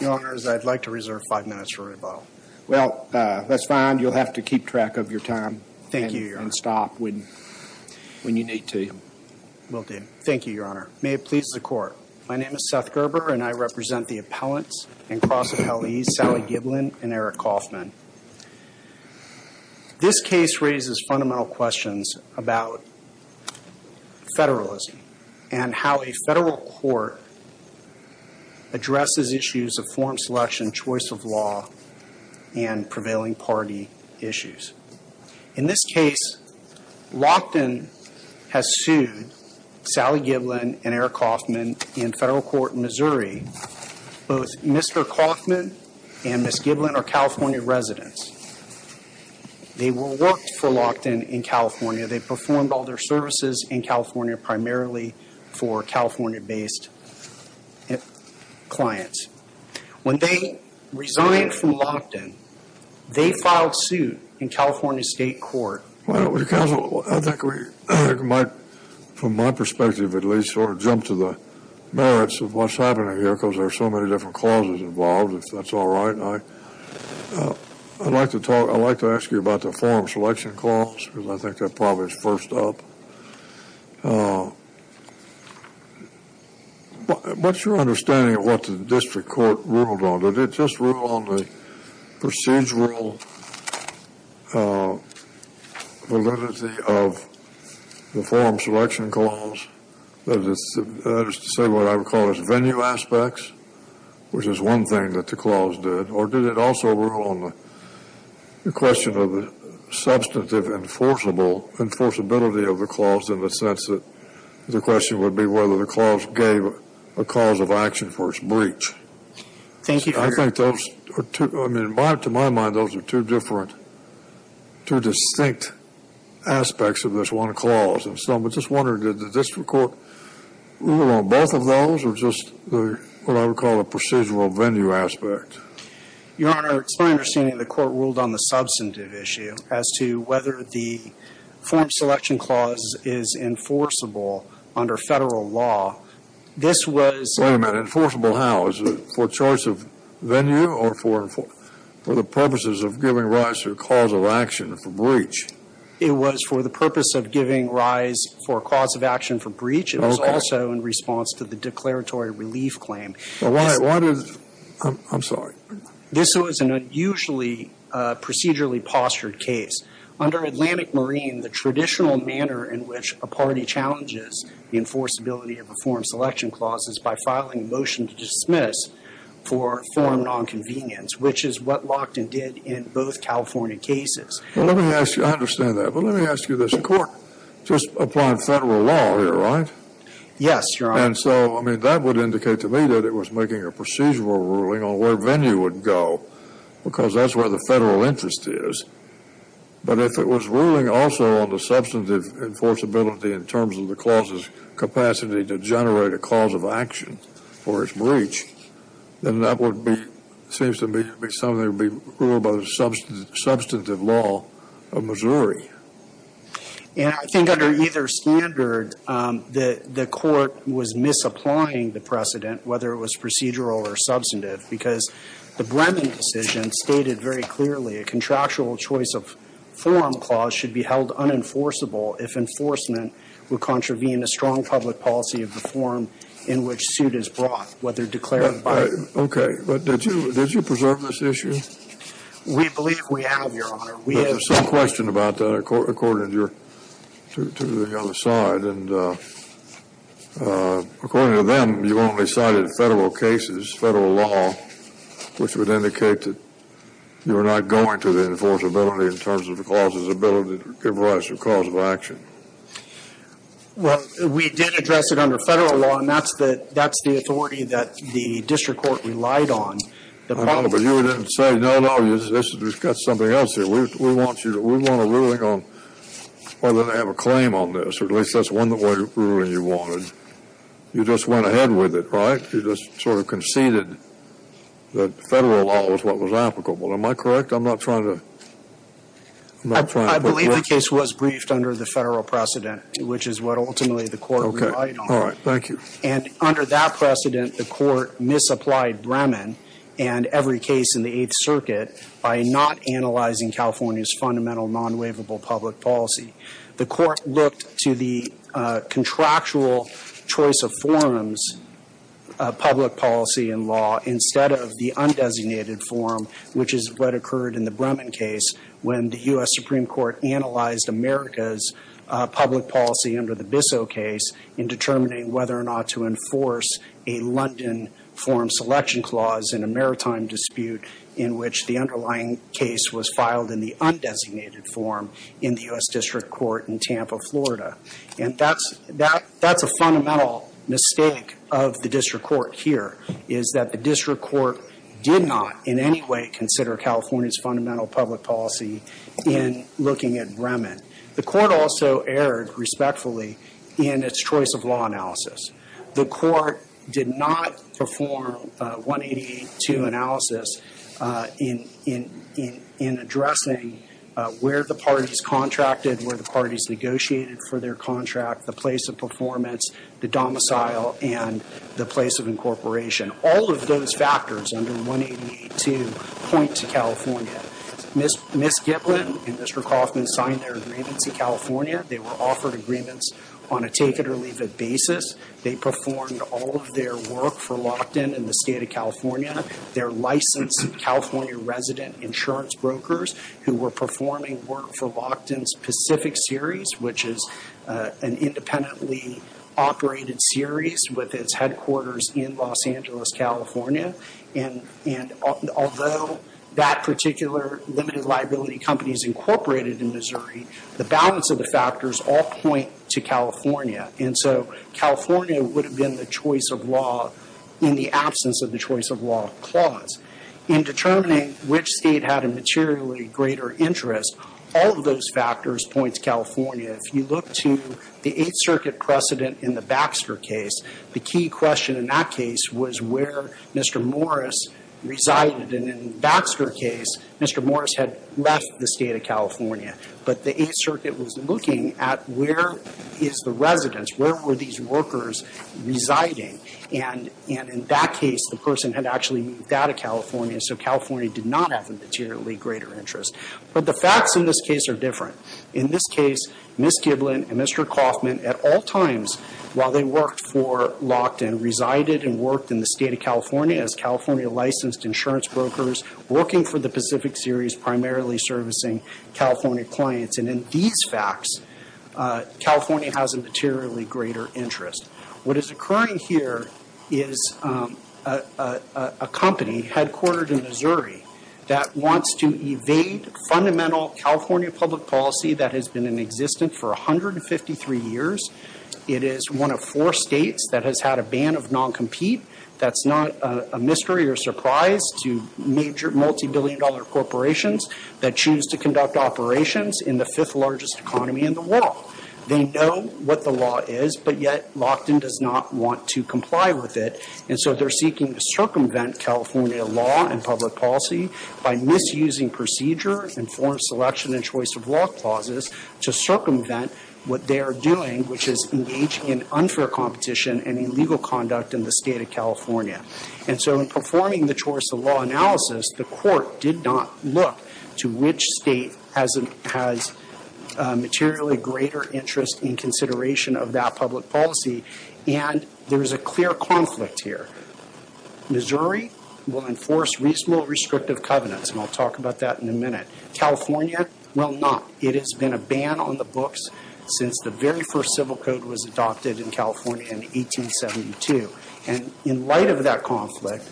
Your Honor, I'd like to reserve five minutes for rebuttal. Well, that's fine. You'll have to keep track of your time. Thank you, Your Honor. And stop when you need to. Will do. Thank you, Your Honor. May it please the Court. My name is Seth Gerber, and I represent the appellants and cross-appellees Sally Giblin and Eric Kaufman. This case raises fundamental questions about federalism and how a federal court addresses issues of form selection, choice of law, and prevailing party issues. In this case, Lockton has sued Sally Giblin and Eric Kaufman in federal court in Missouri. Both Mr. Kaufman and Ms. Giblin are California residents. They worked for Lockton in California. They performed all their services in California primarily for California-based clients. When they resigned from Lockton, they filed suit in California State Court. Well, counsel, I think we might, from my perspective at least, sort of jump to the merits of what's happening here because there are so many different causes involved, if that's all right. I'd like to ask you about the form selection cause because I think that probably is first up. What's your understanding of what the district court ruled on? Did it just rule on the procedural validity of the form selection clause? That is to say what I would call as venue aspects, which is one thing that the clause did. Or did it also rule on the question of the substantive enforceability of the clause in the sense that the question would be whether the clause gave a cause of action for its breach? Thank you, Your Honor. I think those are two, to my mind, those are two different, two distinct aspects of this one clause. So I'm just wondering, did the district court rule on both of those or just what I would call a procedural venue aspect? Your Honor, it's my understanding the court ruled on the substantive issue as to whether the form selection clause is enforceable under federal law. This was Wait a minute, enforceable how? Is it for choice of venue or for the purposes of giving rise to a cause of action for breach? It was for the purpose of giving rise for a cause of action for breach. It was also in response to the declaratory relief claim. Why does, I'm sorry. This was an unusually procedurally postured case. Under Atlantic Marine, the traditional manner in which a party challenges the enforceability of a form selection clause is by filing a motion to dismiss for form nonconvenience, which is what Lockton did in both California cases. Let me ask you, I understand that, but let me ask you this. The court just applied federal law here, right? Yes, Your Honor. And so, I mean, that would indicate to me that it was making a procedural ruling on where venue would go because that's where the federal interest is. But if it was ruling also on the substantive enforceability in terms of the clause's capacity to generate a cause of action for its breach, then that would be, seems to me to be something that would be ruled by the substantive law of Missouri. And I think under either standard, the court was misapplying the precedent, whether it was procedural or substantive, because the Bremen decision stated very clearly a contractual choice of form clause should be held unenforceable if enforcement would contravene a strong public policy of the form in which suit is brought, whether declarative or not. Okay. But did you preserve this issue? We believe we have, Your Honor. But there's some question about that according to the other side. And according to them, you only cited federal cases, federal law, which would indicate that you were not going to the enforceability in terms of the clause's ability to give rise to a cause of action. Well, we did address it under federal law, and that's the authority that the district court relied on. But you didn't say, no, no, this has got something else here. We want a ruling on whether they have a claim on this, or at least that's one of the rulings you wanted. You just went ahead with it, right? You just sort of conceded that federal law was what was applicable. Am I correct? I'm not trying to – I believe the case was briefed under the federal precedent, which is what ultimately the court relied on. Okay. All right. Thank you. And under that precedent, the court misapplied Bremen and every case in the Eighth Circuit by not analyzing California's fundamental non-waivable public policy. The court looked to the contractual choice of forms, public policy and law, instead of the undesignated form, which is what occurred in the Bremen case when the U.S. Supreme Court analyzed America's public policy under the Bissell case in determining whether or not to enforce a London form selection clause in a maritime dispute in which the underlying case was filed in the undesignated form in the U.S. District Court in Tampa, Florida. And that's a fundamental mistake of the district court here, is that the district court did not in any way consider California's fundamental public policy in looking at Bremen. The court also erred, respectfully, in its choice of law analysis. The court did not perform 188.2 analysis in addressing where the parties contracted, where the parties negotiated for their contract, the place of performance, the domicile and the place of incorporation. All of those factors under 188.2 point to California. Ms. Giblin and Mr. Kaufman signed their agreements in California. They were offered agreements on a take-it-or-leave-it basis. They performed all of their work for Lockton in the state of California. They're licensed California resident insurance brokers who were performing work for Lockton's Pacific Series, which is an independently operated series with its headquarters in Los Angeles, California. And although that particular limited liability company is incorporated in Missouri, the balance of the factors all point to California. And so California would have been the choice of law in the absence of the choice of law clause. In determining which state had a materially greater interest, all of those factors point to California. If you look to the Eighth Circuit precedent in the Baxter case, the key question in that case was where Mr. Morris resided. And in the Baxter case, Mr. Morris had left the state of California, but the Eighth Circuit was looking at where is the residence, where were these workers residing. And in that case, the person had actually moved out of California, so California did not have a materially greater interest. But the facts in this case are different. In this case, Ms. Giblin and Mr. Kaufman at all times while they worked for Lockton resided and worked in the state of California as California licensed insurance brokers working for the Pacific Series primarily servicing California clients. And in these facts, California has a materially greater interest. What is occurring here is a company headquartered in Missouri that wants to evade fundamental California public policy that has been in existence for 153 years. It is one of four states that has had a ban of non-compete. That's not a mystery or surprise to major multibillion-dollar corporations that choose to conduct operations in the fifth largest economy in the world. They know what the law is, but yet Lockton does not want to comply with it. And so they're seeking to circumvent California law and public policy by misusing procedure and foreign selection and choice of law clauses to circumvent what they are doing, which is engaging in unfair competition and illegal conduct in the state of California. And so in performing the choice of law analysis, the court did not look to which state has a materially greater interest in consideration of that public policy, and there is a clear conflict here. Missouri will enforce reasonable restrictive covenants, and I'll talk about that in a minute. California will not. It has been a ban on the books since the very first civil code was adopted in California in 1872. And in light of that conflict,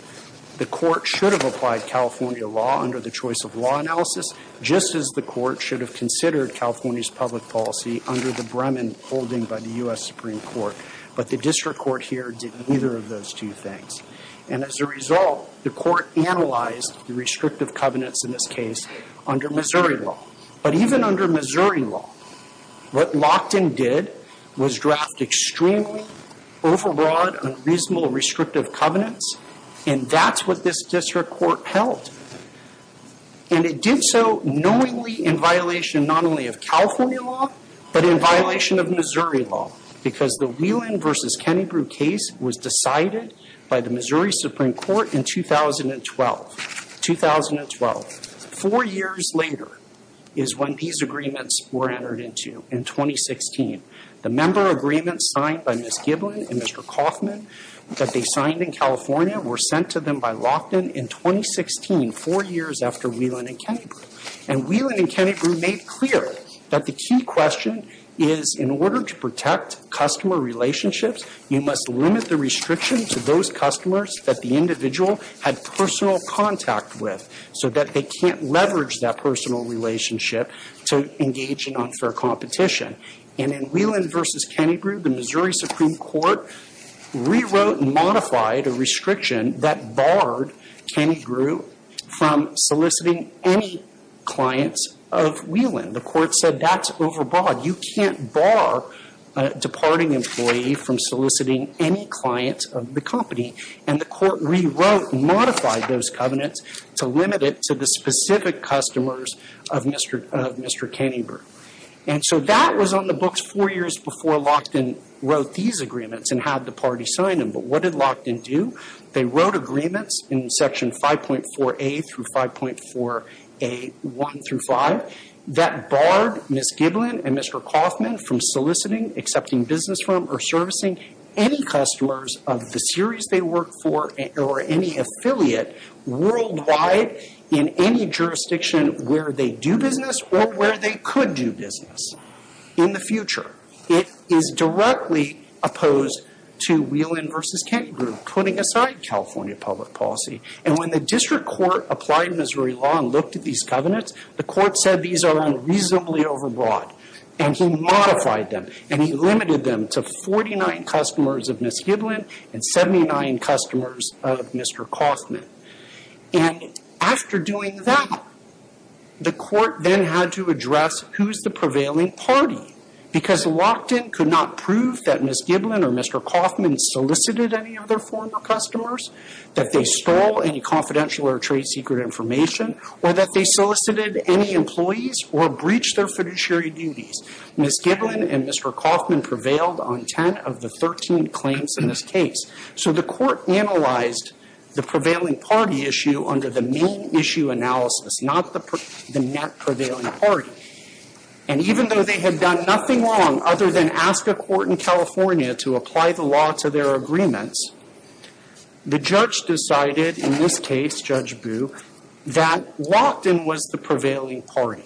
the court should have applied California law under the choice of law analysis, just as the court should have considered California's public policy under the Bremen holding by the U.S. Supreme Court. But the district court here did neither of those two things. And as a result, the court analyzed the restrictive covenants in this case under Missouri law. But even under Missouri law, what Lochtan did was draft extremely overbroad, unreasonable restrictive covenants, and that's what this district court held. And it did so knowingly in violation not only of California law, but in violation of Missouri law, because the Whelan v. Kennebrew case was decided by the Missouri Supreme Court in 2012. Four years later is when these agreements were entered into in 2016. The member agreements signed by Ms. Giblin and Mr. Kaufman that they signed in California were sent to them by Lochtan in 2016, four years after Whelan v. Kennebrew. And Whelan v. Kennebrew made clear that the key question is in order to protect customer relationships, you must limit the restriction to those customers that the individual had personal contact with so that they can't leverage that personal relationship to engage in unfair competition. And in Whelan v. Kennebrew, the Missouri Supreme Court rewrote and modified a restriction that barred Kennebrew from soliciting any clients of Whelan. The court said that's overbought. You can't bar a departing employee from soliciting any clients of the company. And the court rewrote, modified those covenants to limit it to the specific customers of Mr. Kennebrew. And so that was on the books four years before Lochtan wrote these agreements and had the party sign them. But what did Lochtan do? They wrote agreements in Section 5.4a through 5.4a, 1 through 5, that barred Ms. Giblin and Mr. Kaufman from soliciting, accepting business from, or servicing any customers of the series they work for or any affiliate worldwide in any jurisdiction where they do business or where they could do business in the future. It is directly opposed to Whelan v. Kennebrew putting aside California public policy. And when the district court applied Missouri law and looked at these covenants, the court said these are unreasonably overbought, and he modified them, and he limited them to 49 customers of Ms. Giblin and 79 customers of Mr. Kaufman. And after doing that, the court then had to address who's the prevailing party because Lochtan could not prove that Ms. Giblin or Mr. Kaufman solicited any of their former customers, that they stole any confidential or trade secret information, or that they solicited any employees or breached their fiduciary duties. Ms. Giblin and Mr. Kaufman prevailed on 10 of the 13 claims in this case. So the court analyzed the prevailing party issue under the main issue analysis, not the net prevailing party. And even though they had done nothing wrong other than ask a court in California to apply the law to their agreements, the judge decided in this case, Judge Boo, that Lochtan was the prevailing party.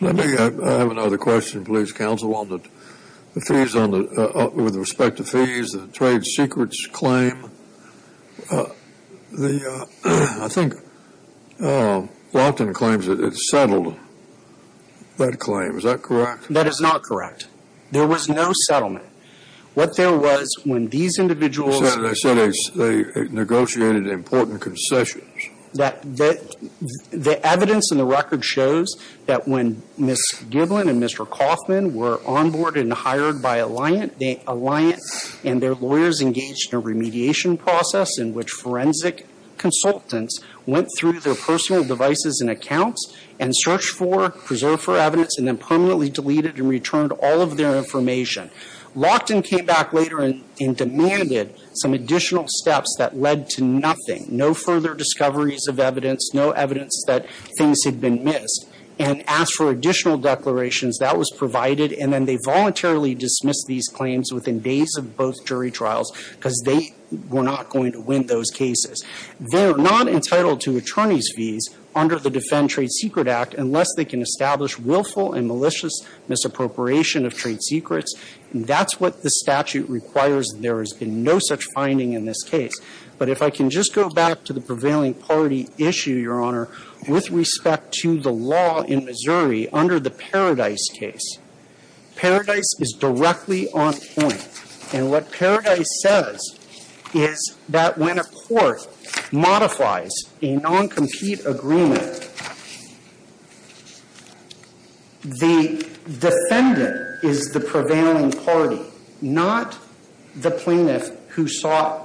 Let me have another question, please, counsel, with respect to fees, the trade secrets claim. I think Lochtan claims that it's settled, that claim. Is that correct? That is not correct. There was no settlement. What there was when these individuals settled. Senator, they negotiated important concessions. The evidence in the record shows that when Ms. Giblin and Mr. Kaufman were onboarded and hired by Alliant, and their lawyers engaged in a remediation process in which forensic consultants went through their personal devices and accounts and searched for, preserved for evidence, and then permanently deleted and returned all of their information. Lochtan came back later and demanded some additional steps that led to nothing, no further discoveries of evidence, no evidence that things had been missed, and asked for additional declarations. That was provided, and then they voluntarily dismissed these claims within days of both jury trials, because they were not going to win those cases. They're not entitled to attorney's fees under the Defend Trade Secret Act unless they can establish willful and malicious misappropriation of trade secrets. That's what the statute requires. There has been no such finding in this case. But if I can just go back to the prevailing party issue, Your Honor, with respect to the law in Missouri under the Paradise case. Paradise is directly on point. And what Paradise says is that when a court modifies a non-compete agreement, the defendant is the prevailing party, not the plaintiff who sought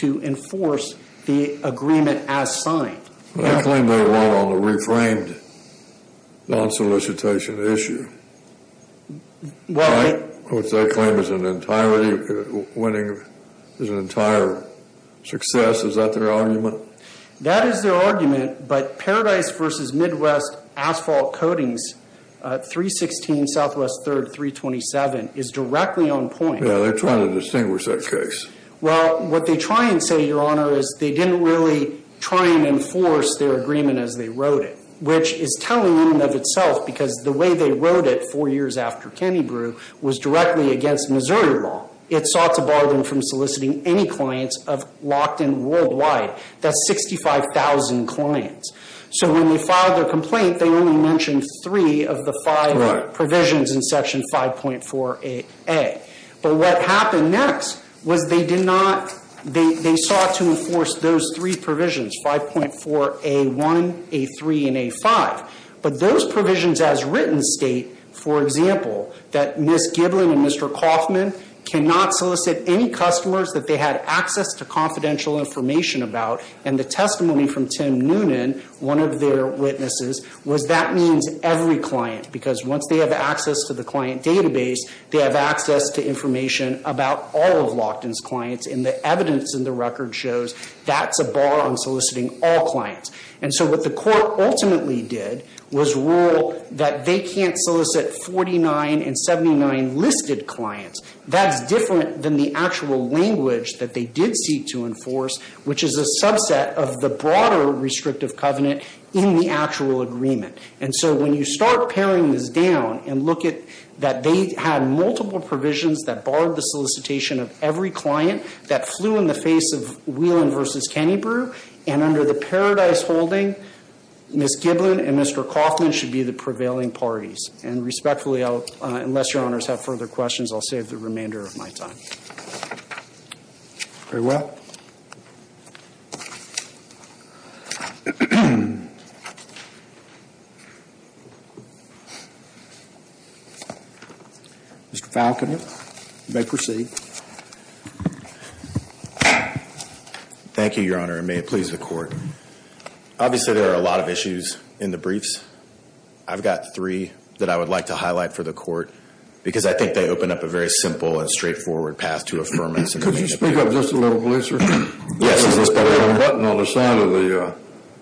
to enforce the agreement as signed. They claim they won on the reframed non-solicitation issue. Right? Which they claim is an entire winning, is an entire success. Is that their argument? That is their argument. But Paradise v. Midwest Asphalt Coatings, 316 Southwest 3rd, 327, is directly on point. Yeah, they're trying to distinguish that case. Well, what they try and say, Your Honor, is they didn't really try and enforce their agreement as they wrote it, which is telling in and of itself, because the way they wrote it four years after Kennebrew was directly against Missouri law. It sought to bar them from soliciting any clients of Lockton worldwide. That's 65,000 clients. So when they filed their complaint, they only mentioned three of the five provisions in Section 5.4a. But what happened next was they sought to enforce those three provisions, 5.4a1, a3, and a5. But those provisions as written state, for example, that Ms. Giblin and Mr. Kaufman cannot solicit any customers that they had access to confidential information about, and the testimony from Tim Noonan, one of their witnesses, was that means every client, because once they have access to the client database, they have access to information about all of Lockton's clients, and the evidence in the record shows that's a bar on soliciting all clients. And so what the court ultimately did was rule that they can't solicit 49 and 79 listed clients. That's different than the actual language that they did seek to enforce, which is a subset of the broader restrictive covenant in the actual agreement. And so when you start paring this down and look at that they had multiple provisions that barred the solicitation of every client that flew in the face of Whelan v. Kennebrew, and under the Paradise holding, Ms. Giblin and Mr. Kaufman should be the prevailing parties. And respectfully, unless Your Honors have further questions, I'll save the remainder of my time. Very well. Mr. Falconer, you may proceed. Thank you, Your Honor, and may it please the court. Obviously there are a lot of issues in the briefs. I've got three that I would like to highlight for the court, because I think they open up a very simple and straightforward path to affirmance. Could you speak up just a little, please, sir? Yes, is this better, Your Honor? There's a little button on the side of the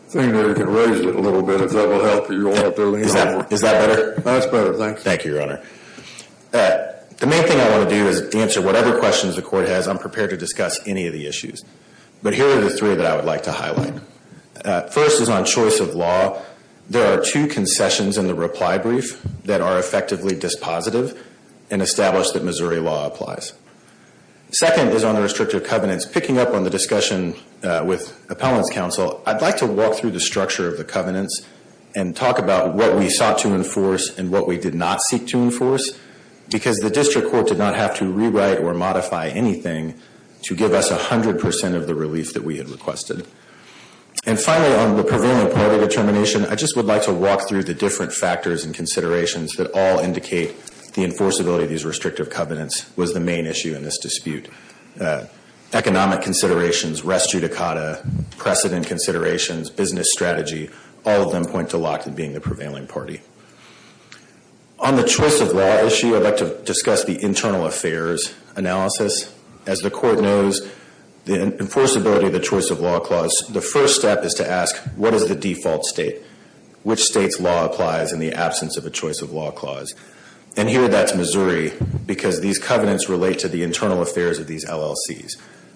thing there. You can raise it a little bit if that will help you. Is that better? That's better, thanks. Thank you, Your Honor. The main thing I want to do is answer whatever questions the court has. I'm prepared to discuss any of the issues. But here are the three that I would like to highlight. First is on choice of law. There are two concessions in the reply brief that are effectively dispositive and establish that Missouri law applies. Second is on the restrictive covenants. Picking up on the discussion with appellant's counsel, I'd like to walk through the structure of the covenants and talk about what we sought to enforce and what we did not seek to enforce, because the district court did not have to rewrite or modify anything to give us 100% of the relief that we had requested. And finally, on the prevailing party determination, I just would like to walk through the different factors and considerations that all indicate the enforceability of these restrictive covenants was the main issue in this dispute. Economic considerations, res judicata, precedent considerations, business strategy, all of them point to Lockton being the prevailing party. On the choice of law issue, I'd like to discuss the internal affairs analysis. As the court knows, the enforceability of the choice of law clause, the first step is to ask, what is the default state? Which state's law applies in the absence of a choice of law clause? And here that's Missouri, because these covenants relate to the internal affairs of these LLCs.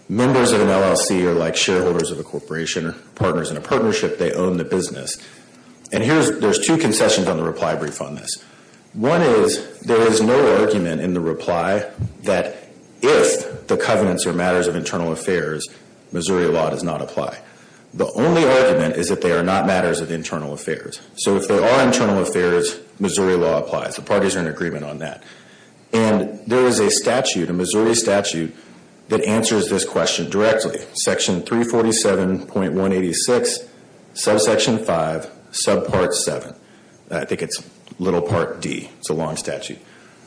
Members of an LLC are like shareholders of a corporation or partners in a partnership. They own the business. And there's two concessions on the reply brief on this. One is there is no argument in the reply that if the covenants are matters of internal affairs, Missouri law does not apply. The only argument is that they are not matters of internal affairs. So if they are internal affairs, Missouri law applies. The parties are in agreement on that. And there is a statute, a Missouri statute, that answers this question directly. Section 347.186, subsection 5, subpart 7. I think it's little part D. It's a long statute.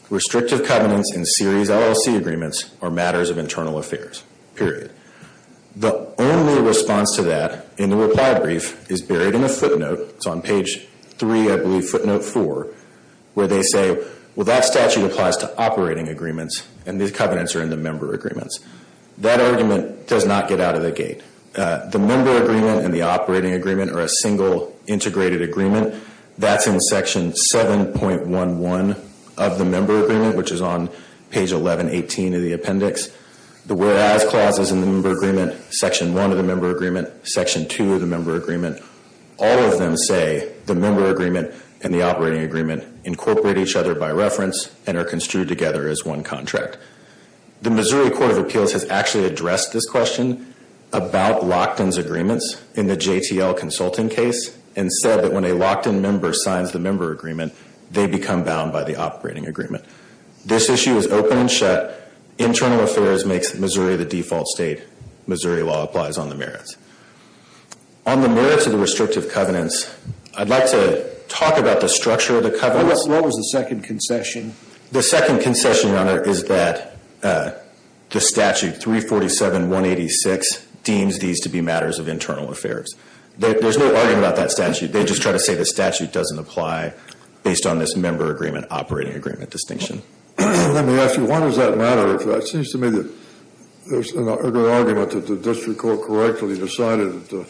Restrictive covenants in series LLC agreements are matters of internal affairs, period. The only response to that in the reply brief is buried in a footnote. It's on page 3, I believe, footnote 4, where they say, well, that statute applies to operating agreements, and these covenants are in the member agreements. That argument does not get out of the gate. The member agreement and the operating agreement are a single integrated agreement. That's in section 7.11 of the member agreement, which is on page 1118 of the appendix. The whereas clauses in the member agreement, section 1 of the member agreement, section 2 of the member agreement, all of them say the member agreement and the operating agreement incorporate each other by reference and are construed together as one contract. The Missouri Court of Appeals has actually addressed this question about Lockton's agreements in the JTL consulting case and said that when a Lockton member signs the member agreement, they become bound by the operating agreement. This issue is open and shut. Internal affairs makes Missouri the default state. Missouri law applies on the merits. On the merits of the restrictive covenants, I'd like to talk about the structure of the covenants. What was the second concession? The second concession, Your Honor, is that the statute 347.186 deems these to be matters of internal affairs. There's no argument about that statute. They just try to say the statute doesn't apply based on this member agreement, operating agreement distinction. Let me ask you, why does that matter? It seems to me that there's an argument that the district court correctly decided that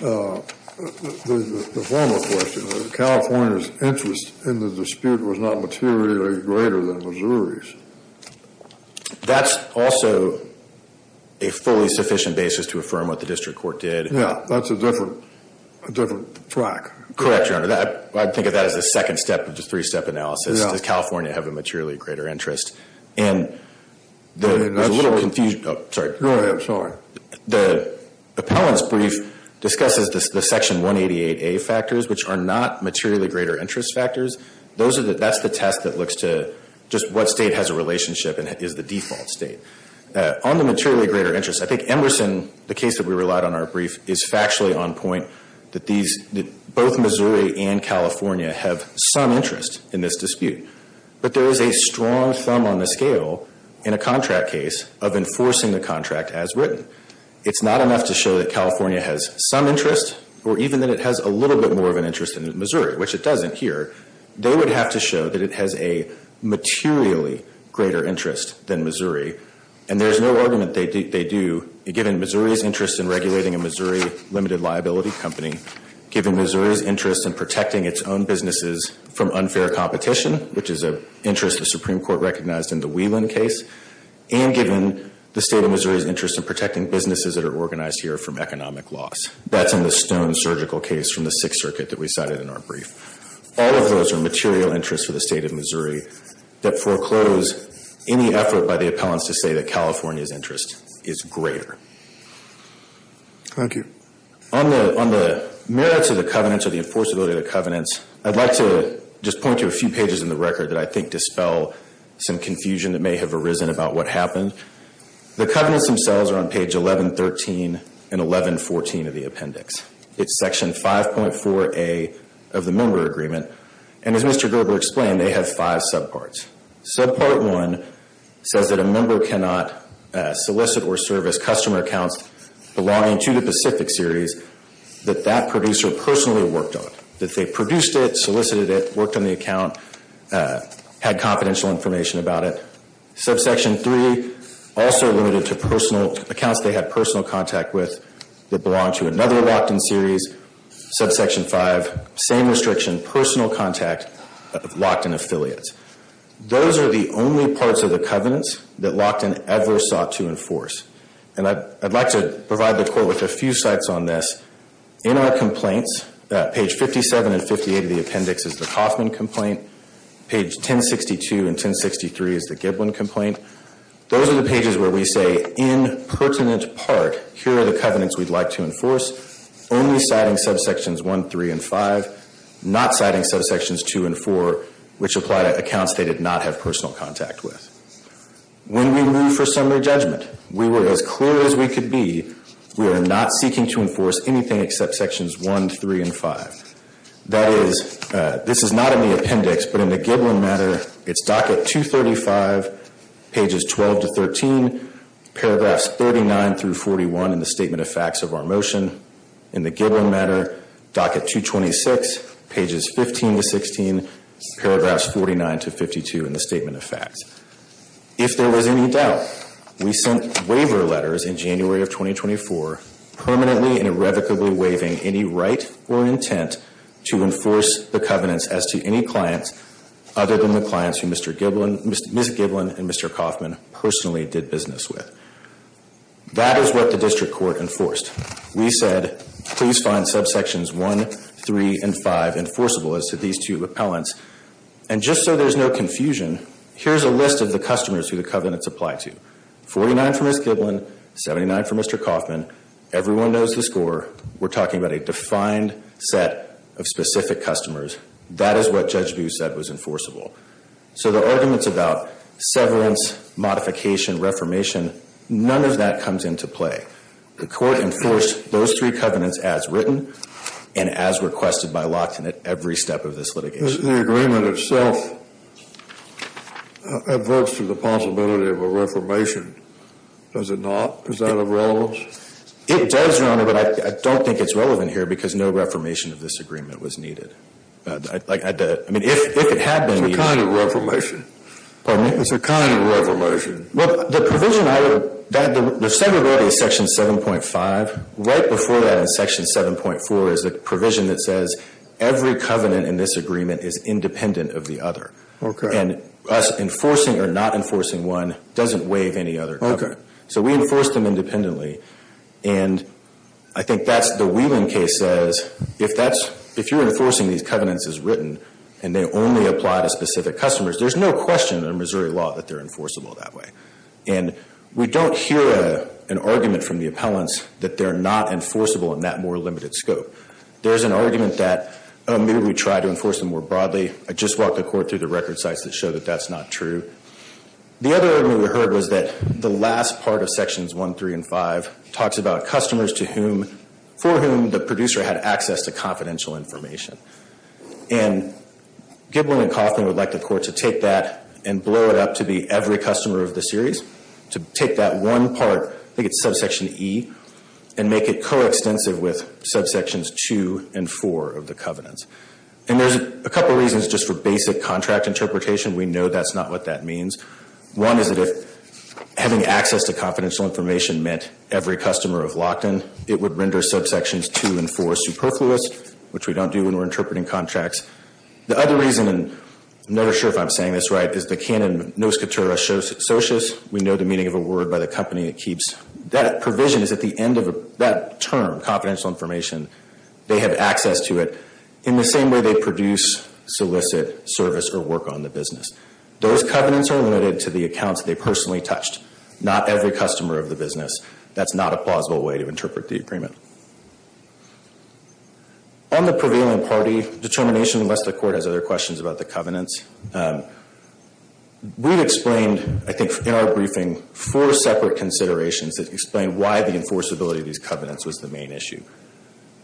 the former question, that California's interest in the dispute was not materially greater than Missouri's. That's also a fully sufficient basis to affirm what the district court did. Yeah, that's a different track. Correct, Your Honor. I'd think of that as a second step of the three-step analysis. Does California have a materially greater interest? And there's a little confusion. Go ahead. Sorry. The appellant's brief discusses the Section 188A factors, which are not materially greater interest factors. That's the test that looks to just what state has a relationship and is the default state. On the materially greater interest, I think Emerson, the case that we relied on in our brief, is factually on point that both Missouri and California have some interest in this dispute. But there is a strong thumb on the scale in a contract case of enforcing the contract as written. It's not enough to show that California has some interest, or even that it has a little bit more of an interest than Missouri, which it doesn't here. They would have to show that it has a materially greater interest than Missouri. And there's no argument they do, given Missouri's interest in regulating a Missouri limited liability company, given Missouri's interest in protecting its own businesses from unfair competition, which is an interest the Supreme Court recognized in the Whelan case, and given the state of Missouri's interest in protecting businesses that are organized here from economic loss. That's in the Stone surgical case from the Sixth Circuit that we cited in our brief. All of those are material interests for the state of Missouri that foreclose any effort by the appellants to say that California's interest is greater. Thank you. On the merits of the covenants or the enforceability of the covenants, I'd like to just point to a few pages in the record that I think dispel some confusion that may have arisen about what happened. The covenants themselves are on page 1113 and 1114 of the appendix. It's section 5.4A of the member agreement. And as Mr. Gerber explained, they have five subparts. Subpart 1 says that a member cannot solicit or service customer accounts belonging to the Pacific Series that that producer personally worked on, that they produced it, solicited it, worked on the account, had confidential information about it. Subsection 3, also limited to accounts they had personal contact with that belonged to another locked-in series. Subsection 5, same restriction, personal contact of locked-in affiliates. Those are the only parts of the covenants that locked-in ever sought to enforce. And I'd like to provide the court with a few sites on this. In our complaints, page 57 and 58 of the appendix is the Kaufman complaint. Page 1062 and 1063 is the Giblin complaint. Those are the pages where we say, in pertinent part, here are the covenants we'd like to enforce. Only citing subsections 1, 3, and 5. Not citing subsections 2 and 4, which apply to accounts they did not have personal contact with. When we move for summary judgment, we were as clear as we could be. We are not seeking to enforce anything except sections 1, 3, and 5. That is, this is not in the appendix, but in the Giblin matter, it's docket 235, pages 12 to 13, paragraphs 39 through 41 in the statement of facts of our motion. In the Giblin matter, docket 226, pages 15 to 16, paragraphs 49 to 52 in the statement of facts. If there was any doubt, we sent waiver letters in January of 2024, permanently and irrevocably waiving any right or intent to enforce the covenants as to any client, other than the clients who Ms. Giblin and Mr. Kaufman personally did business with. That is what the district court enforced. We said, please find subsections 1, 3, and 5 enforceable as to these two appellants. And just so there's no confusion, here's a list of the customers who the covenants apply to. 49 for Ms. Giblin, 79 for Mr. Kaufman. Everyone knows the score. We're talking about a defined set of specific customers. That is what Judge Buse said was enforceable. So the arguments about severance, modification, reformation, none of that comes into play. The court enforced those three covenants as written and as requested by Lockton at every step of this litigation. The agreement itself adverts to the possibility of a reformation. Does it not? Is that of relevance? It does, Your Honor, but I don't think it's relevant here because no reformation of this agreement was needed. I mean, if it had been needed. It's a kind of reformation. Pardon me? It's a kind of reformation. Well, the provision I would, the second one is Section 7.5. Right before that in Section 7.4 is the provision that says every covenant in this agreement is independent of the other. Okay. And us enforcing or not enforcing one doesn't waive any other covenant. Okay. So we enforce them independently. And I think that's the Wheeling case says if that's, if you're enforcing these covenants as written and they only apply to specific customers, there's no question in Missouri law that they're enforceable that way. And we don't hear an argument from the appellants that they're not enforceable in that more limited scope. There's an argument that maybe we try to enforce them more broadly. I just walked the court through the record sites that show that that's not true. The other argument we heard was that the last part of Sections 1, 3, and 5 talks about customers to whom, for whom the producer had access to confidential information. And Giblin and Coffman would like the court to take that and blow it up to be every customer of the series, to take that one part, I think it's subsection E, and make it coextensive with subsections 2 and 4 of the covenants. And there's a couple reasons just for basic contract interpretation. We know that's not what that means. One is that if having access to confidential information meant every customer of Lockton, it would render subsections 2 and 4 superfluous, which we don't do when we're interpreting contracts. The other reason, and I'm not sure if I'm saying this right, is the canon nos catera socius. We know the meaning of a word by the company that keeps that provision is at the end of that term, they have access to it in the same way they produce, solicit, service, or work on the business. Those covenants are limited to the accounts they personally touched, not every customer of the business. That's not a plausible way to interpret the agreement. On the prevailing party determination, unless the court has other questions about the covenants, we've explained, I think in our briefing, four separate considerations that explain why the enforceability of these covenants was the main issue.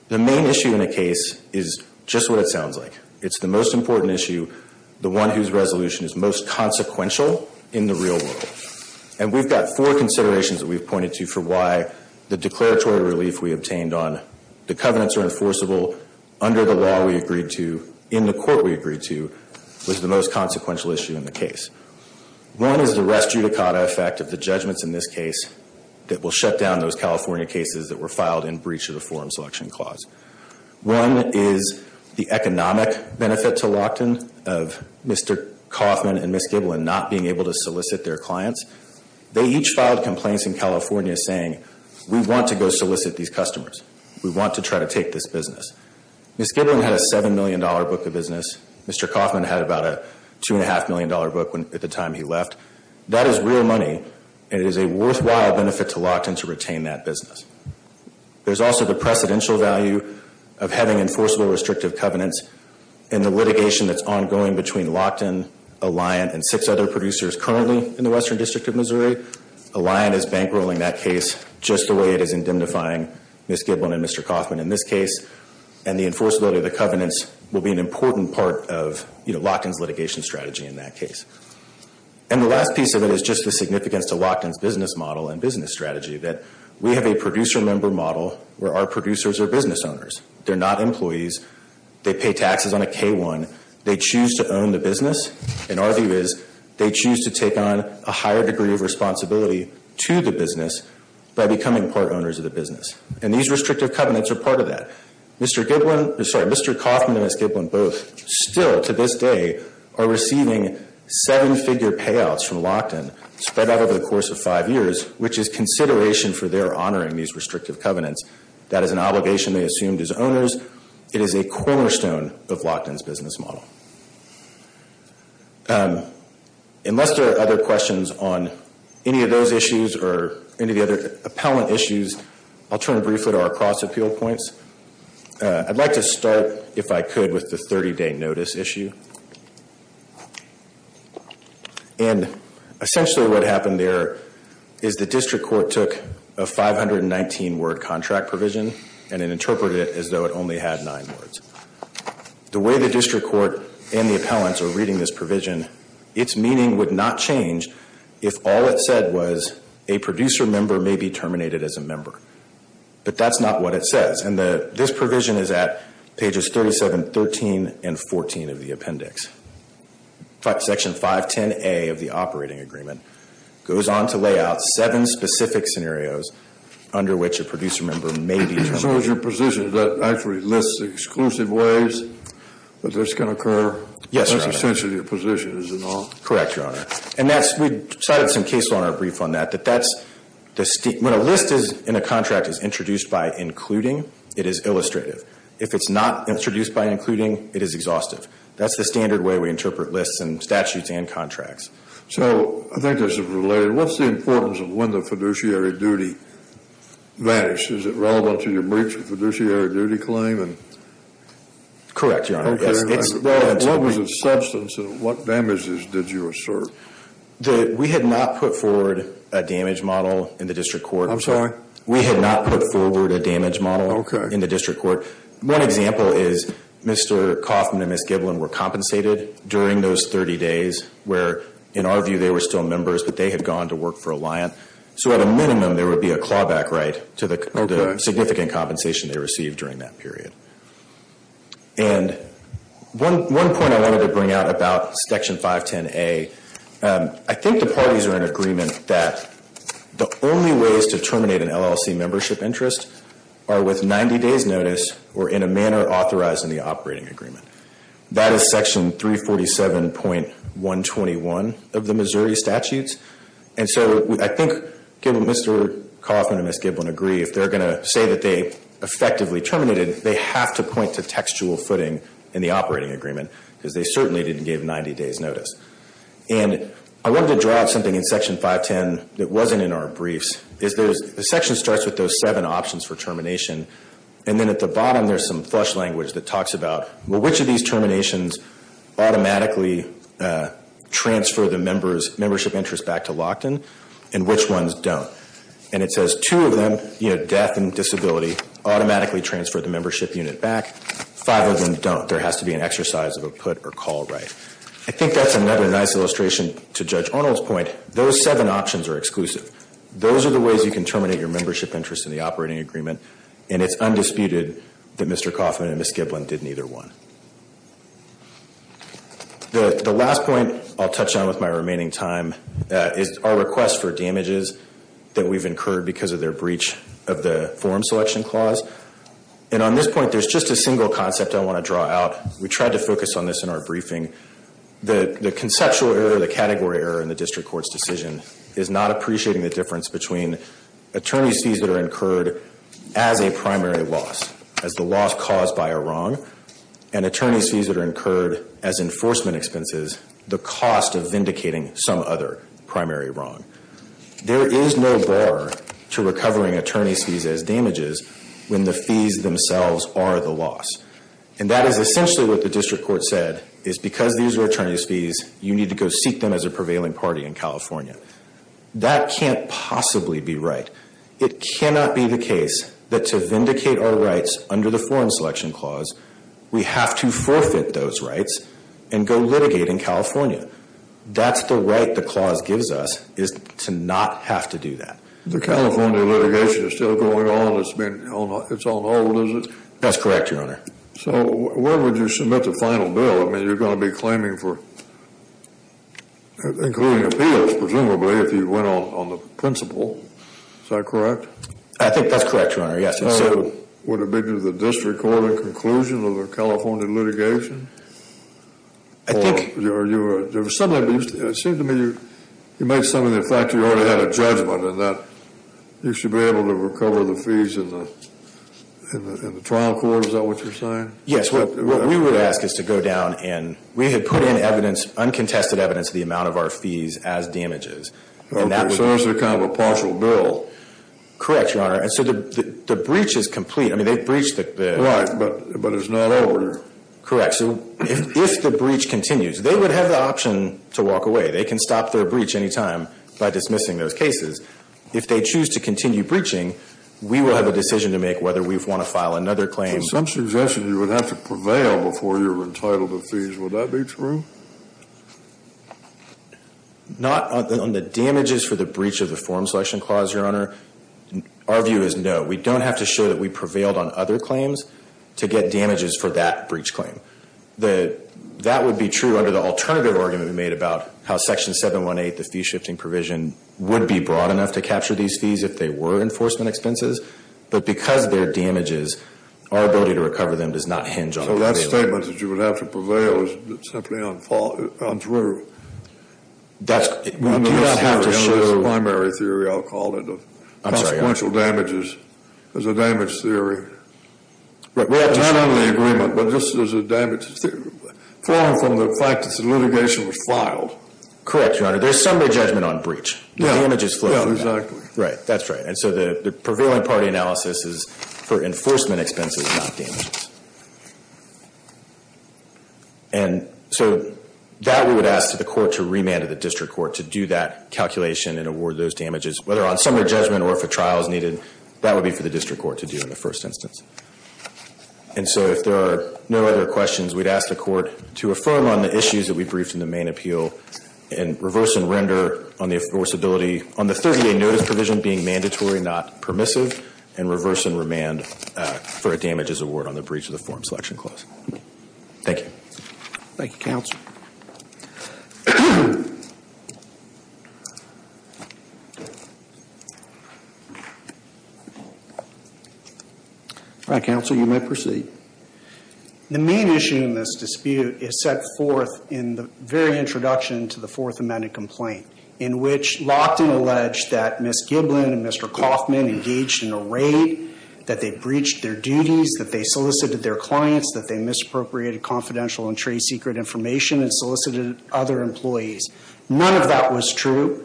The main issue in a case is just what it sounds like. It's the most important issue, the one whose resolution is most consequential in the real world. And we've got four considerations that we've pointed to for why the declaratory relief we obtained on the covenants are enforceable under the law we agreed to, in the court we agreed to, was the most consequential issue in the case. One is the res judicata effect of the judgments in this case that will shut down those California cases that were filed in breach of the forum selection clause. One is the economic benefit to Lockton of Mr. Kauffman and Ms. Giblin not being able to solicit their clients. They each filed complaints in California saying, we want to go solicit these customers. We want to try to take this business. Ms. Giblin had a $7 million book of business. Mr. Kauffman had about a $2.5 million book at the time he left. That is real money, and it is a worthwhile benefit to Lockton to retain that business. There's also the precedential value of having enforceable restrictive covenants in the litigation that's ongoing between Lockton, Alliant, and six other producers currently in the Western District of Missouri. Alliant is bankrolling that case just the way it is indemnifying Ms. Giblin and Mr. Kauffman in this case. The enforceability of the covenants will be an important part of Lockton's litigation strategy in that case. The last piece of it is just the significance to Lockton's business model and business strategy that we have a producer member model where our producers are business owners. They're not employees. They pay taxes on a K-1. They choose to own the business, and our view is they choose to take on a higher degree of responsibility to the business by becoming part owners of the business. And these restrictive covenants are part of that. Mr. Kauffman and Ms. Giblin both still to this day are receiving seven-figure payouts from Lockton spread out over the course of five years, which is consideration for their honoring these restrictive covenants. That is an obligation they assumed as owners. It is a cornerstone of Lockton's business model. Unless there are other questions on any of those issues or any of the other appellant issues, I'll turn briefly to our cross-appeal points. I'd like to start, if I could, with the 30-day notice issue. And essentially what happened there is the district court took a 519-word contract provision and it interpreted it as though it only had nine words. The way the district court and the appellants are reading this provision, its meaning would not change if all it said was a producer member may be terminated as a member. But that's not what it says. And this provision is at pages 37, 13, and 14 of the appendix. Section 510A of the operating agreement goes on to lay out seven specific scenarios under which a producer member may be terminated. As far as your position, does that actually list the exclusive ways that this can occur? Yes, Your Honor. That's essentially your position, is it not? Correct, Your Honor. And we cited some case law in our brief on that. When a list in a contract is introduced by including, it is illustrative. If it's not introduced by including, it is exhaustive. That's the standard way we interpret lists in statutes and contracts. So I think this is related. What's the importance of when the fiduciary duty vanishes? Is it relevant to your breach of fiduciary duty claim? Correct, Your Honor. What was the substance and what damages did you assert? We had not put forward a damage model in the district court. I'm sorry? We had not put forward a damage model in the district court. One example is Mr. Kaufman and Ms. Giblin were compensated during those 30 days where, in our view, they were still members, but they had gone to work for Alliant. So at a minimum, there would be a clawback right to the significant compensation they received during that period. And one point I wanted to bring out about Section 510A, I think the parties are in agreement that the only ways to terminate an LLC membership interest are with 90 days' notice or in a manner authorized in the operating agreement. That is Section 347.121 of the Missouri statutes. And so I think Mr. Kaufman and Ms. Giblin agree. If they're going to say that they effectively terminated, they have to point to textual footing in the operating agreement because they certainly didn't give 90 days' notice. And I wanted to draw out something in Section 510 that wasn't in our briefs. The section starts with those seven options for termination, and then at the bottom there's some flush language that talks about, well, which of these terminations automatically transfer the membership interest back to Lockton, and which ones don't? And it says two of them, death and disability, automatically transfer the membership unit back. Five of them don't. There has to be an exercise of a put or call right. I think that's another nice illustration to Judge Arnold's point. Those seven options are exclusive. Those are the ways you can terminate your membership interest in the operating agreement, and it's undisputed that Mr. Kaufman and Ms. Giblin did neither one. The last point I'll touch on with my remaining time is our request for damages that we've incurred because of their breach of the forum selection clause. And on this point, there's just a single concept I want to draw out. We tried to focus on this in our briefing. The conceptual error, the category error in the district court's decision, is not appreciating the difference between attorney's fees that are incurred as a primary loss, as the loss caused by a wrong, and attorney's fees that are incurred as enforcement expenses, the cost of vindicating some other primary wrong. There is no bar to recovering attorney's fees as damages when the fees themselves are the loss. And that is essentially what the district court said, is because these are attorney's fees, you need to go seek them as a prevailing party in California. That can't possibly be right. It cannot be the case that to vindicate our rights under the forum selection clause, we have to forfeit those rights and go litigate in California. That's the right the clause gives us, is to not have to do that. The California litigation is still going on. It's on hold, is it? That's correct, Your Honor. So where would you submit the final bill? I mean, you're going to be claiming for, including appeals, presumably, if you went on the principle. Is that correct? I think that's correct, Your Honor, yes. Would it be to the district court a conclusion of the California litigation? I think. It seemed to me you made some of the fact you already had a judgment in that you should be able to recover the fees in the trial court. Is that what you're saying? Yes. What we would ask is to go down and we had put in evidence, uncontested evidence, the amount of our fees as damages. Okay. So it's kind of a partial bill. Correct, Your Honor. And so the breach is complete. I mean, they've breached the... Right, but it's not over. Correct. So if the breach continues, they would have the option to walk away. They can stop their breach any time by dismissing those cases. If they choose to continue breaching, we will have a decision to make whether we want to file another claim. Some suggested you would have to prevail before you were entitled to fees. Would that be true? Not on the damages for the breach of the form selection clause, Your Honor. Our view is no. We don't have to show that we prevailed on other claims to get damages for that breach claim. That would be true under the alternative argument we made about how Section 718, the fee-shifting provision, would be broad enough to capture these fees if they were enforcement expenses. But because they're damages, our ability to recover them does not hinge on... So that statement that you would have to prevail is simply untrue. That's... Do you have to show... Under this primary theory, I'll call it. I'm sorry, Your Honor. Consequential damages as a damage theory. Right. Well, not under the agreement, but just as a damage theory. Flowing from the fact that the litigation was filed. Correct, Your Honor. There's somebody's judgment on breach. The damages flow from that. Yeah, yeah, exactly. Right, that's right. And so the prevailing party analysis is for enforcement expenses, not damages. And so that we would ask the court to remand to the district court to do that calculation and award those damages, whether on summary judgment or if a trial is needed. That would be for the district court to do in the first instance. And so if there are no other questions, we'd ask the court to affirm on the issues that we briefed in the main appeal and reverse and render on the enforceability. On the 30-day notice provision being mandatory, not permissive, and reverse and remand for a damages award on the breach of the forum selection clause. Thank you. Thank you, Counsel. All right, Counsel, you may proceed. The main issue in this dispute is set forth in the very introduction to the Fourth Amendment complaint, in which Lochtan alleged that Ms. Giblin and Mr. Kaufman engaged in a raid, that they breached their duties, that they solicited their clients, that they misappropriated confidential and trade secret information and solicited other employees. None of that was true.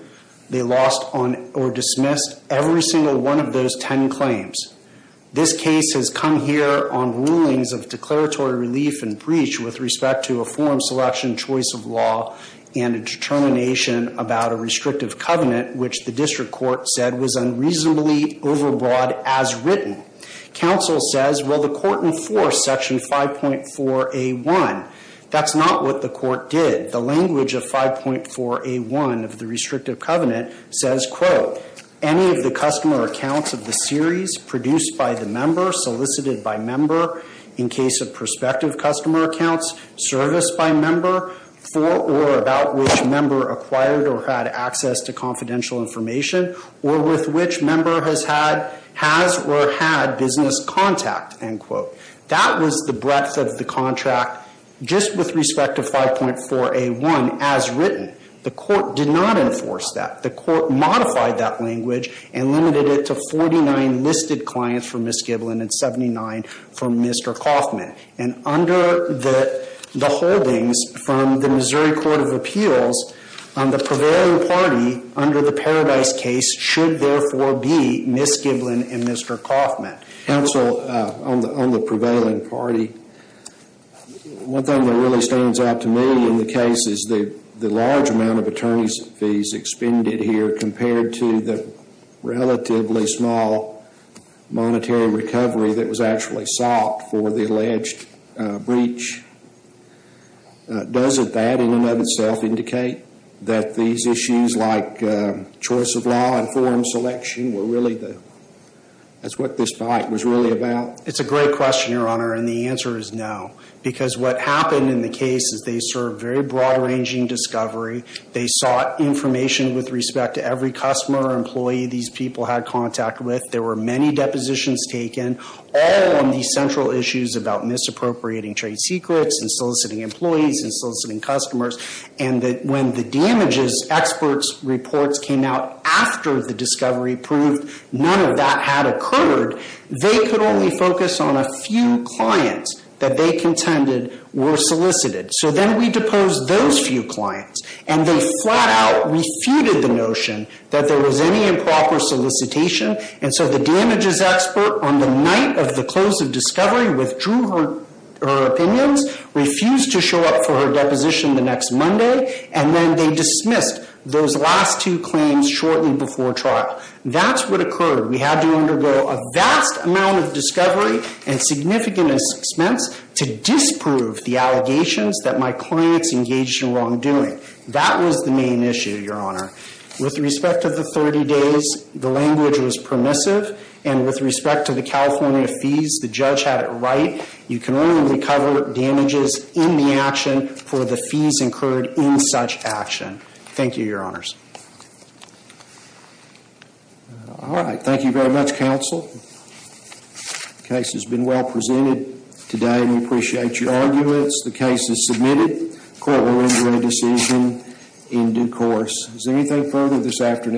They lost or dismissed every single one of those ten claims. This case has come here on rulings of declaratory relief and breach with respect to a forum selection choice of law and a determination about a restrictive covenant, which the district court said was unreasonably overbroad as written. Counsel says, well, the court enforced Section 5.4A1. That's not what the court did. The language of 5.4A1 of the restrictive covenant says, quote, any of the customer accounts of the series produced by the member, solicited by member, in case of prospective customer accounts, serviced by member, for or about which member acquired or had access to confidential information, or with which member has had, has or had business contact, end quote. That was the breadth of the contract just with respect to 5.4A1 as written. The court did not enforce that. The court modified that language and limited it to 49 listed clients for Ms. Giblin and 79 for Mr. Coffman. And under the holdings from the Missouri Court of Appeals, the prevailing party under the Paradise case should therefore be Ms. Giblin and Mr. Coffman. Counsel, on the prevailing party, one thing that really stands out to me in the case is the large amount of attorney's fees expended here compared to the relatively small monetary recovery that was actually sought for the alleged breach. Does that in and of itself indicate that these issues like choice of law and forum selection were really the, that's what this fight was really about? It's a great question, Your Honor, and the answer is no. Because what happened in the case is they served very broad-ranging discovery. They sought information with respect to every customer or employee these people had contact with. There were many depositions taken all on these central issues about misappropriating trade secrets and soliciting employees and soliciting customers. And when the damages experts' reports came out after the discovery proved none of that had occurred, they could only focus on a few clients that they contended were solicited. So then we deposed those few clients, and they flat-out refuted the notion that there was any improper solicitation. And so the damages expert, on the night of the close of discovery, withdrew her opinions, refused to show up for her deposition the next Monday, and then they dismissed those last two claims shortly before trial. That's what occurred. We had to undergo a vast amount of discovery and significant expense to disprove the allegations that my clients engaged in wrongdoing. That was the main issue, Your Honor. With respect to the 30 days, the language was permissive, and with respect to the California fees, the judge had it right. You can only recover damages in the action for the fees incurred in such action. Thank you, Your Honors. All right. Thank you very much, counsel. The case has been well presented today. We appreciate your arguments. The case is submitted. Court will adjourn the decision in due course. Is there anything further this afternoon?